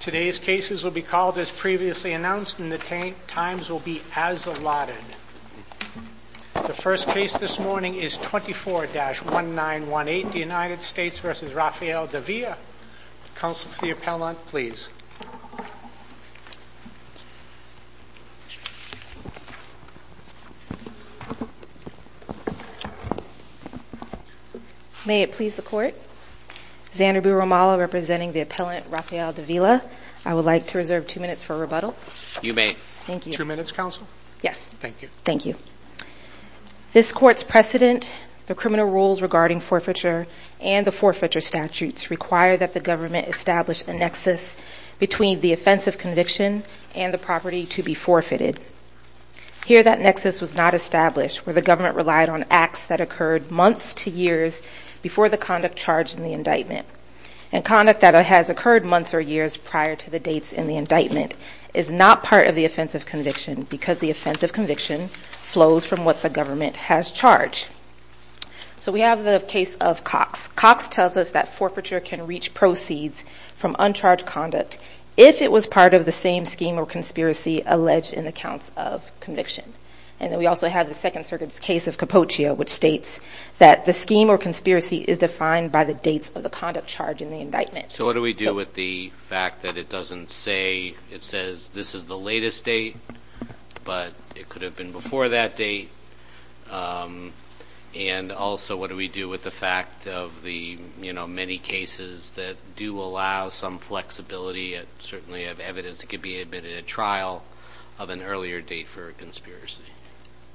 Today's cases will be called as previously announced and the times will be as allotted. The first case this morning is 24-1918, the United States v. Rafael Davila. Counsel for the appellant, please. May it please the Court, Xander B. Romalo representing the appellant Rafael Davila. I would like to reserve two minutes for rebuttal. You may. Thank you. Two minutes, Counsel? Yes. Thank you. Thank you. This Court's precedent, the criminal rules regarding forfeiture, and the forfeiture statutes require that the government establish a nexus between the offensive conviction and the property to be forfeited. Here that nexus was not established where the government relied on acts that occurred months to years before the conduct charged in the indictment. And conduct that has occurred months or years prior to the dates in the indictment is not part of the offensive conviction because the offensive conviction flows from what the government has charged. So we have the case of Cox. Cox tells us that forfeiture can reach proceeds from uncharged conduct if it was part of the same scheme or conspiracy alleged in the counts of conviction. And then we also have the Second Circuit's case of Cappuccio, which states that the scheme or conspiracy is defined by the dates of the conduct charged in the indictment. So what do we do with the fact that it doesn't say, it says this is the latest date, but it could have been before that date? And also, what do we do with the fact of the, you know, many cases that do allow some flexibility and certainly have evidence that could be admitted at trial of an earlier date for a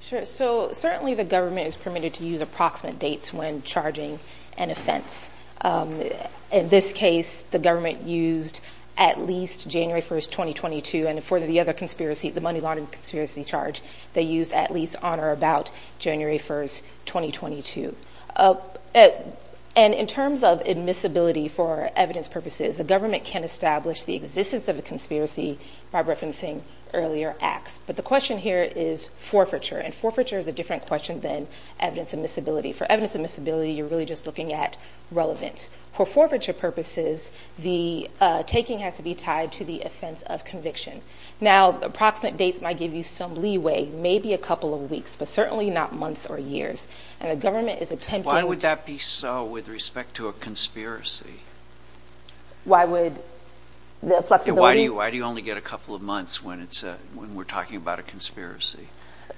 Sure. So certainly the government is permitted to use approximate dates when charging an offense. In this case, the government used at least January 1st, 2022. And for the other conspiracy, the Money Laundering Conspiracy charge, they used at least on or about January 1st, 2022. And in terms of admissibility for evidence purposes, the government can establish the existence of a conspiracy by referencing earlier acts. But the question here is forfeiture, and forfeiture is a different question than evidence admissibility. For evidence admissibility, you're really just looking at relevant. For forfeiture purposes, the taking has to be tied to the offense of conviction. Now, approximate dates might give you some leeway, maybe a couple of weeks, but certainly not months or years. And the government is attempting Why would that be so with respect to a conspiracy? Why would the flexibility Why do you only get a couple of months when we're talking about a conspiracy?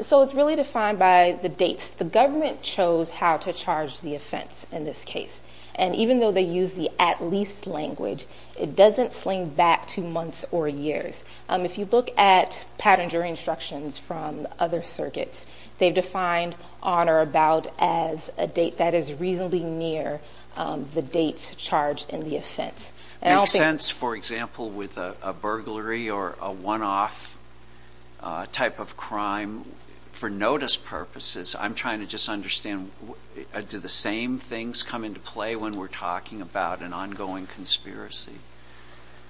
So it's really defined by the dates. The government chose how to charge the offense in this case. And even though they use the at least language, it doesn't sling back to months or years. If you look at Pattinger instructions from other circuits, they've defined on or about as a date that is reasonably near the dates charged in the offense. It makes sense, for example, with a burglary or a one-off type of crime. For notice purposes, I'm trying to just understand, do the same things come into play when we're talking about an ongoing conspiracy?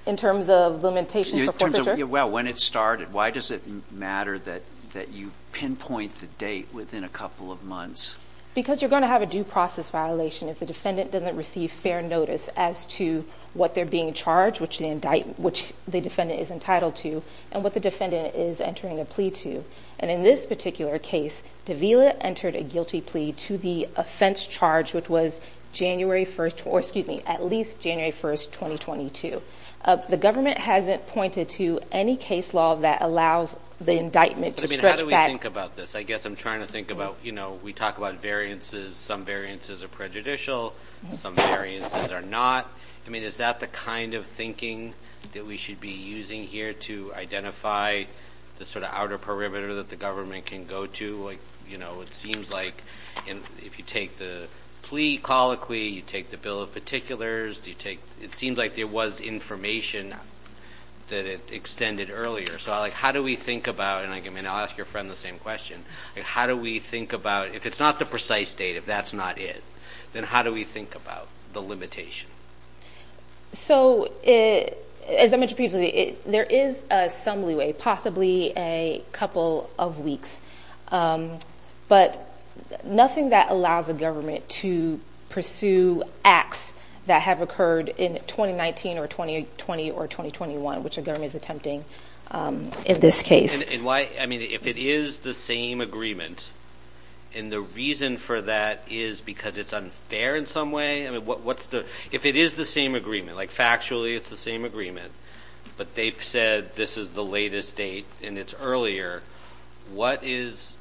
In terms of limitations for forfeiture? Well, when it started, why does it matter that you pinpoint the date within a couple of months? Because you're going to have a due process violation if the defendant doesn't receive fair notice as to what they're being charged, which the defendant is entitled to, and what the defendant is entering a plea to. And in this particular case, Davila entered a guilty plea to the offense charge, which was January 1st, or excuse me, at least January 1st, 2022. The government hasn't pointed to any case law that allows the indictment to stretch back. I mean, how do we think about this? I guess I'm trying to think about, you know, we talk about variances. Some variances are prejudicial, some variances are not. I mean, is that the kind of thinking that we should be using here to identify the sort of perimeter that the government can go to? You know, it seems like if you take the plea colloquy, you take the bill of particulars, it seems like there was information that it extended earlier. So how do we think about, and I'll ask your friend the same question, how do we think about, if it's not the precise date, if that's not it, then how do we think about the limitation? So, as I mentioned previously, there is some leeway, possibly a couple of weeks, but nothing that allows the government to pursue acts that have occurred in 2019 or 2020 or 2021, which the government is attempting in this case. And why, I mean, if it is the same agreement, and the reason for that is because it's unfair in some way, I mean, what's the, if it is the same agreement, like factually it's the same agreement, but they've said this is the latest date and it's earlier, what is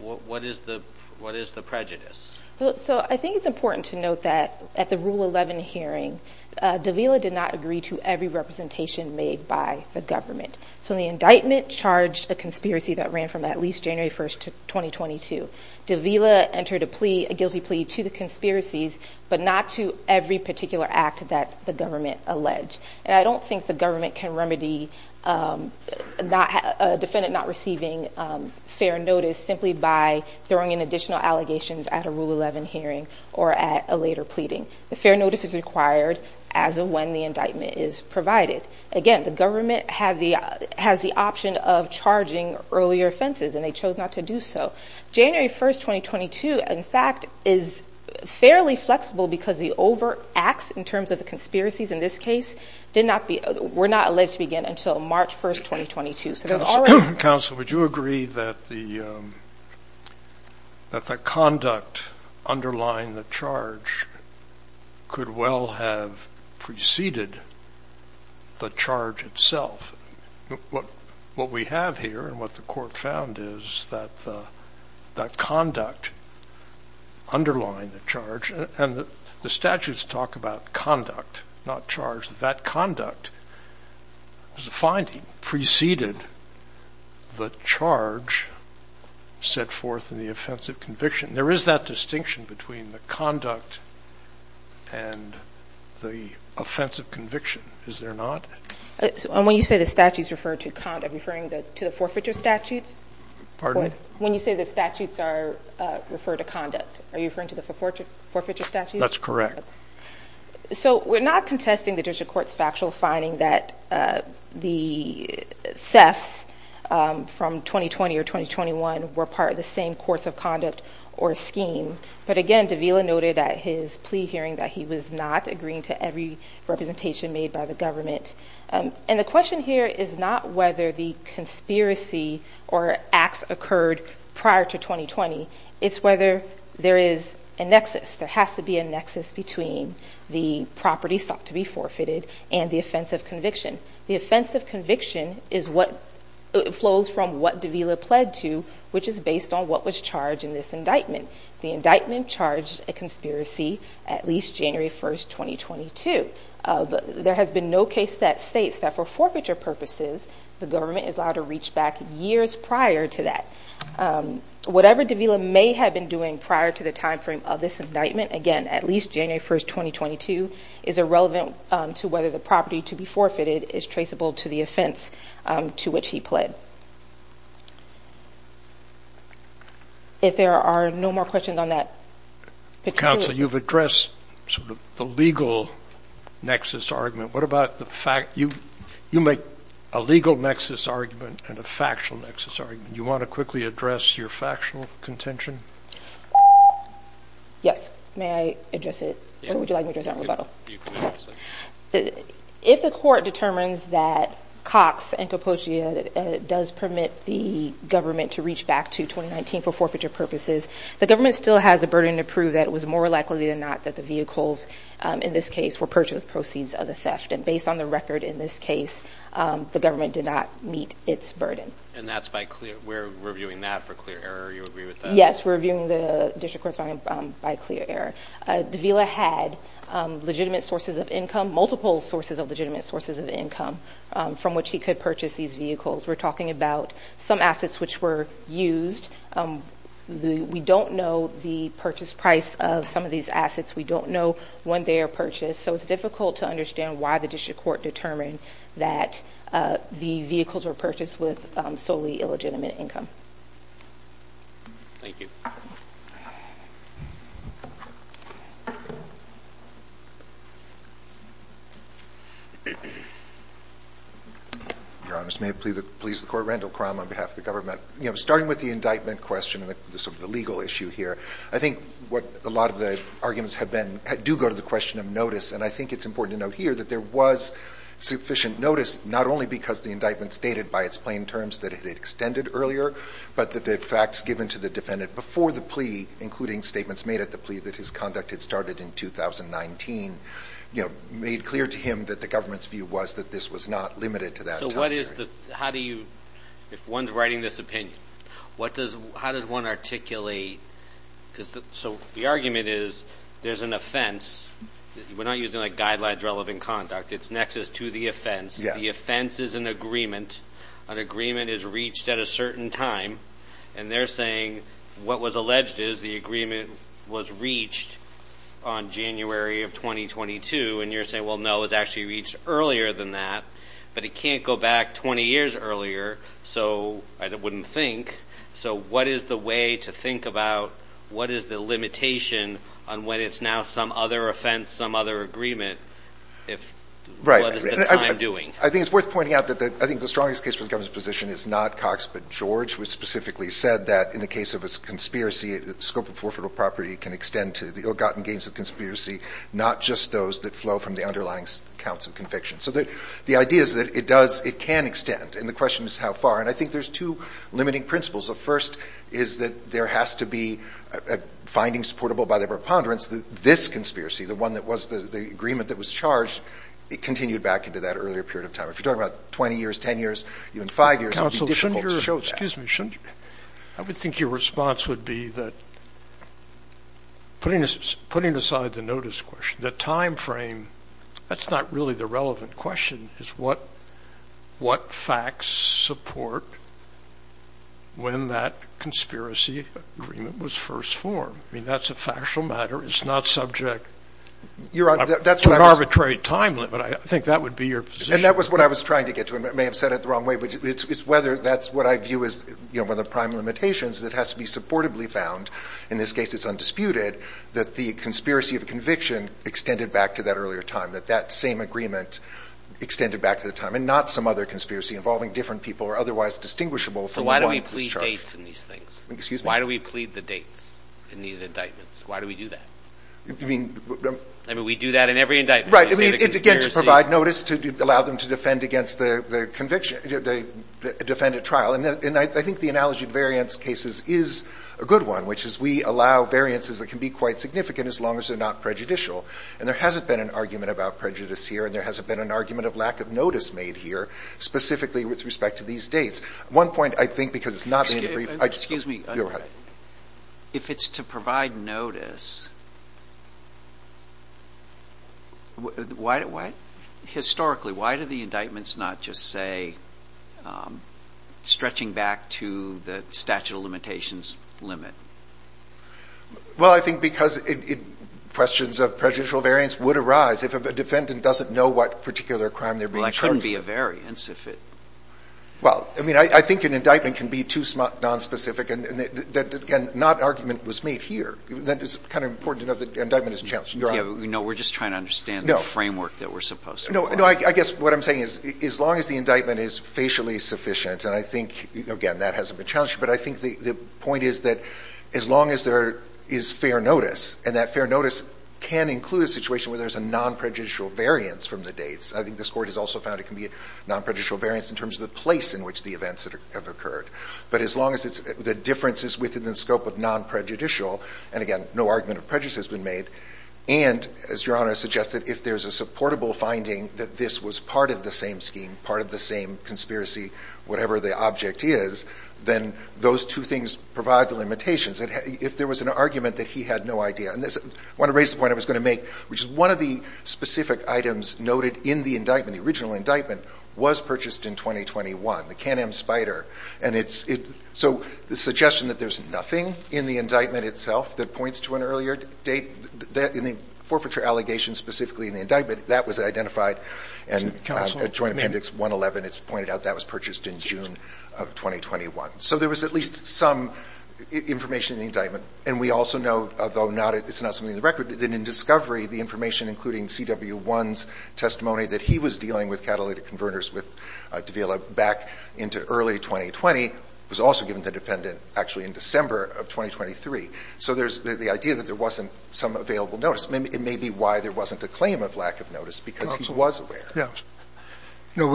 the prejudice? So I think it's important to note that at the Rule 11 hearing, Davila did not agree to every representation made by the government. So the indictment charged a conspiracy that ran from at least January 1st to 2022. Davila entered a plea, a guilty plea, to the conspiracies, but not to every particular act that the government alleged. And I don't think the government can remedy a defendant not receiving fair notice simply by throwing in additional allegations at a Rule 11 hearing or at a later pleading. The fair notice is required as of when the indictment is provided. Again, the government has the option of charging earlier offenses, and they chose not to do so. January 1st, 2022, in fact, is fairly flexible because the overt acts, in terms of the conspiracies in this case, did not be, were not alleged to begin until March 1st, 2022, so there's already- Counsel, would you agree that the conduct underlying the charge could well have preceded the charge itself? What we have here and what the court found is that the conduct underlying the charge, and the statutes talk about conduct, not charge. That conduct is a finding preceded the charge set forth in the offensive conviction. There is that distinction between the conduct and the offensive conviction, is there not? And when you say the statutes refer to conduct, are you referring to the forfeiture statutes? Pardon? When you say the statutes refer to conduct, are you referring to the forfeiture statutes? That's correct. So we're not contesting the District Court's factual finding that the thefts from 2020 or 2021 were part of the same course of conduct or scheme, but again, Davila noted at his plea hearing that he was not agreeing to every representation made by the government. And the question here is not whether the conspiracy or acts occurred prior to 2020, it's whether there is a nexus, there has to be a nexus between the property sought to be forfeited and the offensive conviction. The offensive conviction is what flows from what Davila pled to, which is based on what was charged in this indictment. The indictment charged a conspiracy at least January 1st, 2022. There has been no case that states that for forfeiture purposes, the government is allowed to reach back years prior to that. Whatever Davila may have been doing prior to the timeframe of this indictment, again, at least January 1st, 2022, is irrelevant to whether the property to be forfeited is traceable to the offense to which he pled. But if there are no more questions on that. Counsel, you've addressed sort of the legal nexus argument. What about the fact you, you make a legal nexus argument and a factual nexus argument. You want to quickly address your factual contention? Yes, may I address it? Or would you like me to address it in rebuttal? You can address it. If the court determines that Cox and Capocia does permit the government to reach back to 2019 for forfeiture purposes, the government still has a burden to prove that it was more likely than not that the vehicles in this case were purchased with proceeds of the theft. And based on the record in this case, the government did not meet its burden. And that's by clear, we're reviewing that for clear error. You agree with that? Yes, we're reviewing the district court's finding by clear error. Davila had legitimate sources of income, multiple sources of legitimate sources of income from which he could purchase these vehicles. We're talking about some assets which were used. We don't know the purchase price of some of these assets. We don't know when they are purchased. So it's difficult to understand why the district court determined that the vehicles were purchased with solely illegitimate income. Thank you. Your Honor, may it please the Court, Randall Crum on behalf of the government. You know, starting with the indictment question and sort of the legal issue here, I think what a lot of the arguments have been, do go to the question of notice. And I think it's important to note here that there was sufficient notice, not only because the indictment stated by its plain terms that it had extended earlier, but that the facts given to the defendant before the plea, including statements made at the plea that his conduct had started in 2019, you know, made clear to him that the government's view was that this was not limited to that time period. So what is the, how do you, if one's writing this opinion, what does, how does one articulate, so the argument is there's an offense, we're not using like guidelines relevant conduct, it's nexus to the offense. The offense is an agreement. An agreement is reached at a certain time. And they're saying what was alleged is the agreement was reached on January of 2022. And you're saying, well, no, it was actually reached earlier than that. But it can't go back 20 years earlier, so I wouldn't think. So what is the way to think about what is the limitation on when it's now some other offense, some other agreement, if what is the time doing? I think it's worth pointing out that I think the strongest case for the government's position is not Cox, but George, who specifically said that in the case of a conspiracy, the scope of forfeitable property can extend to the ill-gotten gains of conspiracy, not just those that flow from the underlying counts of conviction. So the idea is that it does, it can extend. And the question is how far. And I think there's two limiting principles. The first is that there has to be a finding supportable by their preponderance that this conspiracy, the one that was the agreement that was charged, it continued back into that earlier period of time. If you're talking about 20 years, 10 years, even five years, it would be difficult to show that. Excuse me. I would think your response would be that putting aside the notice question, the time frame, that's not really the relevant question, is what facts support when that conspiracy agreement was first formed. I mean, that's a factual matter. It's not subject to an arbitrary time limit. I think that would be your position. And that was what I was trying to get to. I may have said it the wrong way. But it's whether that's what I view as one of the prime limitations that has to be supportably found, in this case it's undisputed, that the conspiracy of conviction extended back to that earlier time, that that same agreement extended back to the time, and not some other conspiracy involving different people or otherwise distinguishable from the ones charged. So why do we plead dates in these things? Excuse me? Why do we plead the dates in these indictments? Why do we do that? I mean, we do that in every indictment. Right. Again, to provide notice, to allow them to defend against the conviction, defend a trial. And I think the analogy of variance cases is a good one, which is we allow variances that can be quite significant as long as they're not prejudicial. And there hasn't been an argument about prejudice here, and there hasn't been an argument of lack of notice made here, specifically with respect to these dates. One point, I think, because it's not being briefed. Excuse me. If it's to provide notice, historically, why do the indictments not just say stretching back to the statute of limitations limit? Well, I think because questions of prejudicial variance would arise if a defendant doesn't know what particular crime they're being charged with. Well, it couldn't be a variance if it — Well, I mean, I think an indictment can be too nonspecific, and not argument was made here. It's kind of important to know that an indictment is a challenge. You're on. No, we're just trying to understand the framework that we're supposed to. No. I guess what I'm saying is as long as the indictment is facially sufficient — and I think, again, that hasn't been challenged here, but I think the point is that as long as there is fair notice, and that fair notice can include a situation where there's a nonprejudicial variance from the dates. I think this Court has also found it can be a nonprejudicial variance in terms of the place in which the events have occurred. But as long as it's — the difference is within the scope of nonprejudicial — and, again, no argument of prejudice has been made — and, as Your Honor suggested, if there's a supportable finding that this was part of the same scheme, part of the same conspiracy, whatever the object is, then those two things provide the limitations. If there was an argument that he had no idea — and I want to raise the point I was going to make, which is one of the specific items noted in the indictment, in the original indictment, was purchased in 2021, the Can-Am Spyder. And it's — so the suggestion that there's nothing in the indictment itself that points to an earlier date in the forfeiture allegations specifically in the indictment, that was identified. And Joint Appendix 111, it's pointed out, that was purchased in June of 2021. So there was at least some information in the indictment. And we also know, although it's not something in the record, that in discovery the information, including CW1's testimony that he was dealing with catalytic converters with Davila back into early 2020, was also given to the defendant actually in December of 2023. So there's the idea that there wasn't some available notice. It may be why there wasn't a claim of lack of notice, because he was aware. You know,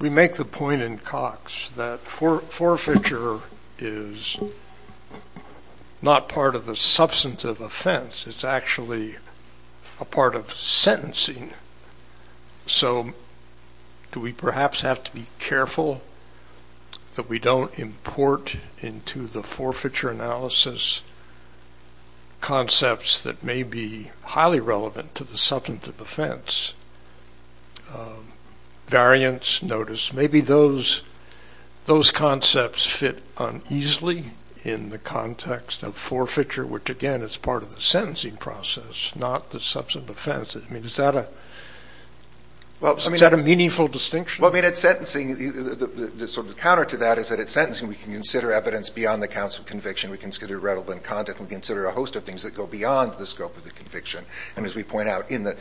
we make the point in Cox that forfeiture is not part of the substantive offense. It's actually a part of sentencing. So do we perhaps have to be careful that we don't import into the forfeiture analysis concepts that may be highly relevant to the substantive offense? Variants, notice, maybe those concepts fit uneasily in the context of forfeiture, which, again, is part of the sentencing process, not the substantive offense. I mean, is that a meaningful distinction? Well, I mean, at sentencing, sort of the counter to that is that at sentencing we can consider evidence beyond the counts of conviction. We can consider relevant conduct. We can consider a host of things that go beyond the scope of the conviction. And as we point out, in the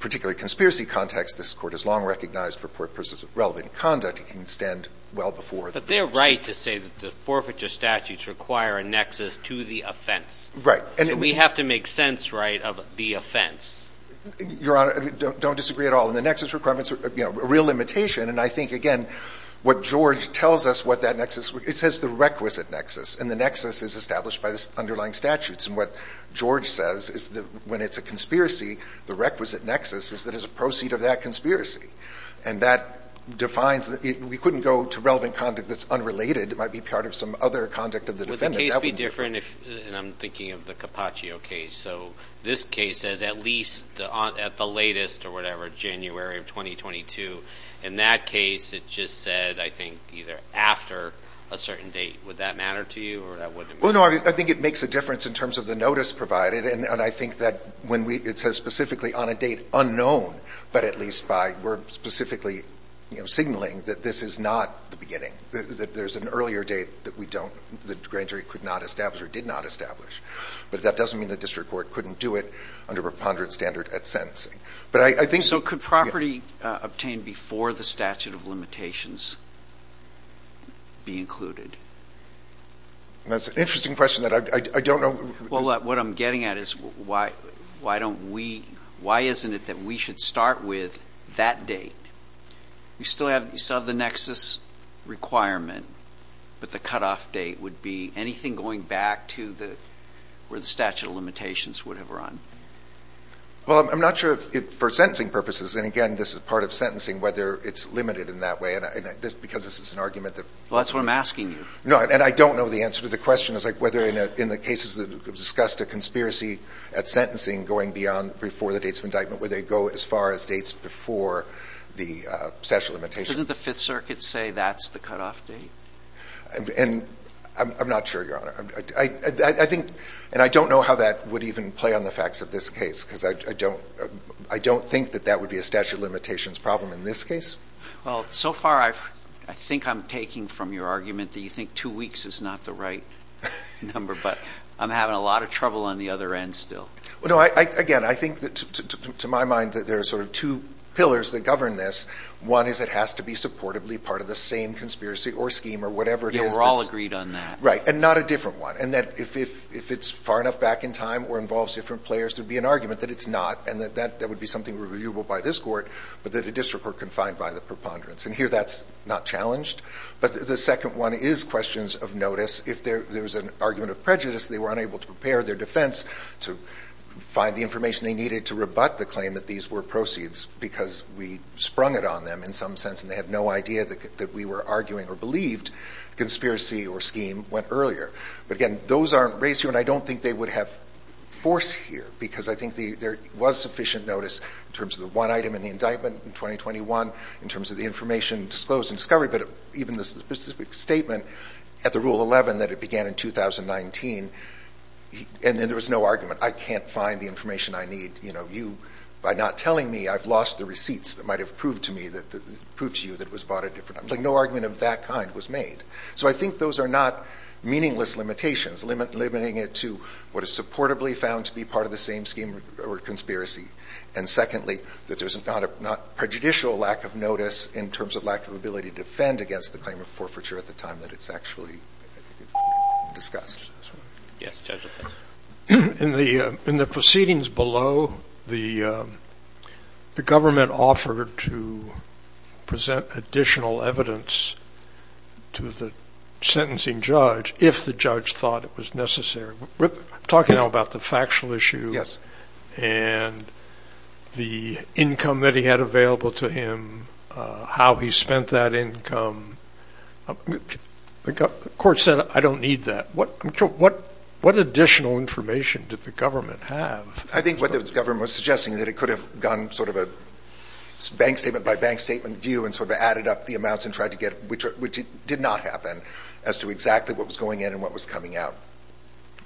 particular conspiracy context, this Court has long recognized for purposes of relevant conduct, it can extend well before. But they're right to say that the forfeiture statutes require a nexus to the offense. So we have to make sense, right, of the offense. Your Honor, don't disagree at all. And the nexus requirements are a real limitation. And I think, again, what George tells us what that nexus – it says the requisite nexus, and the nexus is established by the underlying statutes. And what George says is that when it's a conspiracy, the requisite nexus is that it's a proceed of that conspiracy. And that defines – we couldn't go to relevant conduct that's unrelated. It might be part of some other conduct of the defendant. That would be different if – and I'm thinking of the Cappaccio case. So this case says at least at the latest, or whatever, January of 2022. In that case, it just said, I think, either after a certain date. Would that matter to you, or that wouldn't matter? Well, no, I think it makes a difference in terms of the notice provided. And I think that when we – it says specifically on a date unknown, but at least by – we're specifically signaling that this is not the beginning, that there's an earlier date that we don't – the grand jury could not establish or did not establish. But that doesn't mean the district court couldn't do it under preponderance standard at sentencing. But I think – So could property obtained before the statute of limitations be included? That's an interesting question that I don't know – Well, what I'm getting at is why don't we – why isn't it that we should start with that date? You still have – you still have the nexus requirement, but the cutoff date would be anything going back to the – where the statute of limitations would have run. Well, I'm not sure if – for sentencing purposes. And, again, this is part of sentencing, whether it's limited in that way. And this – because this is an argument that – Well, that's what I'm asking you. No, and I don't know the answer to the question. It's like whether in the cases that have discussed a conspiracy at sentencing going beyond before the dates of indictment, where they go as far as dates before the statute of limitations. Doesn't the Fifth Circuit say that's the cutoff date? And I'm not sure, Your Honor. I think – and I don't know how that would even play on the facts of this case because I don't – I don't think that that would be a statute of limitations problem in this case. Well, so far I've – I think I'm taking from your argument that you think two weeks is not the right number. But I'm having a lot of trouble on the other end still. Well, no, I – again, I think that to my mind that there are sort of two pillars that govern this. One is it has to be supportably part of the same conspiracy or scheme or whatever it is that's – Yeah, we're all agreed on that. Right. And not a different one. And that if it's far enough back in time or involves different players, there would be an argument that it's not and that that would be something reviewable by this Court, but that a district court can find by the preponderance. And here that's not challenged. But the second one is questions of notice. If there's an argument of prejudice, they were unable to prepare their defense to find the information they needed to rebut the claim that these were proceeds because we sprung it on them in some sense and they had no idea that we were arguing or believed conspiracy or scheme went earlier. But, again, those aren't raised here, and I don't think they would have force here because I think there was sufficient notice in terms of the one item in the indictment in 2021, in terms of the information disclosed in discovery, but even the specific statement at the Rule 11 that it began in 2019, and then there was no argument. I can't find the information I need. You know, you, by not telling me, I've lost the receipts that might have proved to me that, proved to you that it was bought at a different time. Like, no argument of that kind was made. So I think those are not meaningless limitations, limiting it to what is supportably found to be part of the same scheme or conspiracy. And, secondly, that there's not a prejudicial lack of notice in terms of lack of ability to defend against the claim of forfeiture at the time that it's actually discussed. In the proceedings below, the government offered to present additional evidence to the sentencing judge if the judge thought it was necessary. We're talking now about the factual issue. And the income that he had available to him, how he spent that income. The court said, I don't need that. What additional information did the government have? I think what the government was suggesting is that it could have gone sort of a bank statement by bank statement view and sort of added up the amounts and tried to get, which did not happen, as to exactly what was going in and what was coming out.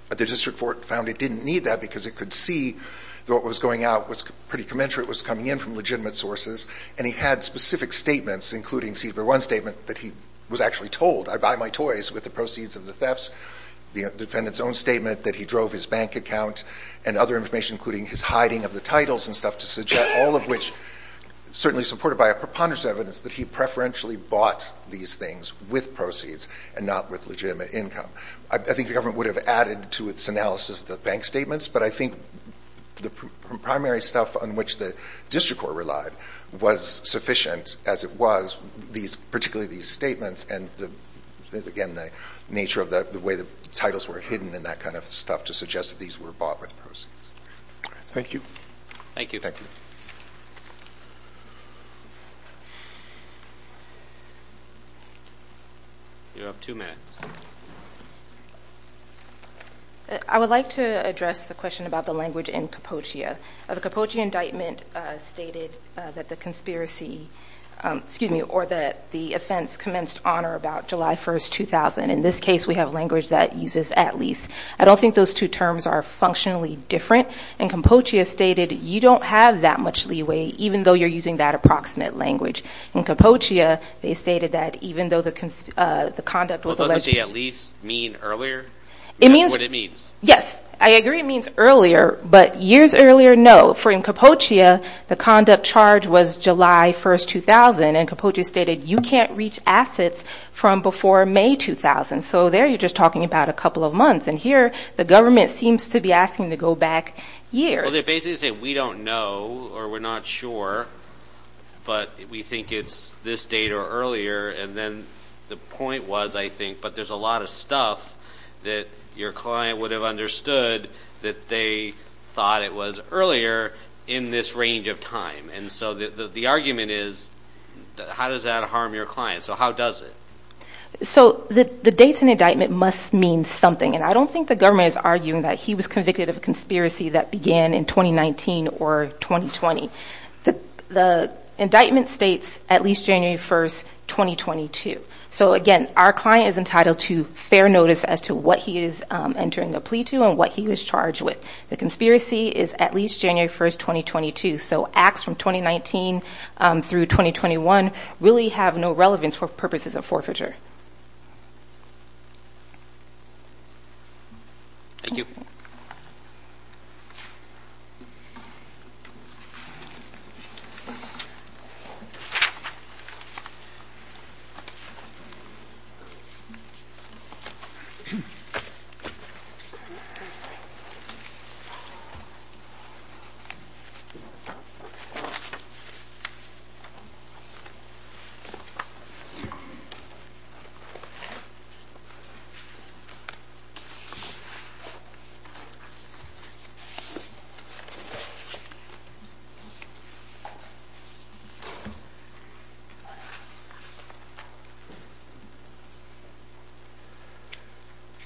But the district court found it didn't need that because it could see that what was going out was pretty commensurate, was coming in from legitimate sources, and he had specific statements, including one statement that he was actually told, I buy my toys with the proceeds of the thefts, the defendant's own statement that he drove his bank account, and other information including his hiding of the titles and stuff to suggest, all of which certainly supported by a preponderance of evidence that he preferentially bought these things with proceeds and not with legitimate income. I think the government would have added to its analysis the bank statements, but I think the primary stuff on which the district court relied was sufficient as it was, particularly these statements and, again, the nature of the way the titles were hidden and that kind of stuff to suggest that these were bought with proceeds. Thank you. Thank you. Thank you. You have two minutes. I would like to address the question about the language in Capocea. The Capocea indictment stated that the conspiracy, excuse me, or that the offense commenced on or about July 1st, 2000. In this case, we have language that uses at least. I don't think those two terms are functionally different, and Capocea stated you don't have that much leeway even though you're using that approximate language. In Capocea, they stated that even though the conduct was alleged. Doesn't it at least mean earlier? It means. Is that what it means? Yes. I agree it means earlier, but years earlier, no. For in Capocea, the conduct charge was July 1st, 2000, and Capocea stated you can't reach assets from before May 2000. So there you're just talking about a couple of months, and here the government seems to be asking to go back years. Well, they basically say we don't know or we're not sure, but we think it's this date or earlier, and then the point was, I think, but there's a lot of stuff that your client would have understood that they thought it was earlier in this range of time. And so the argument is how does that harm your client? So how does it? So the dates and indictment must mean something, and I don't think the conspiracy that began in 2019 or 2020. The indictment states at least January 1st, 2022. So, again, our client is entitled to fair notice as to what he is entering a plea to and what he was charged with. The conspiracy is at least January 1st, 2022. So acts from 2019 through 2021 really have no relevance for purposes of forfeiture. Thank you. Thank you.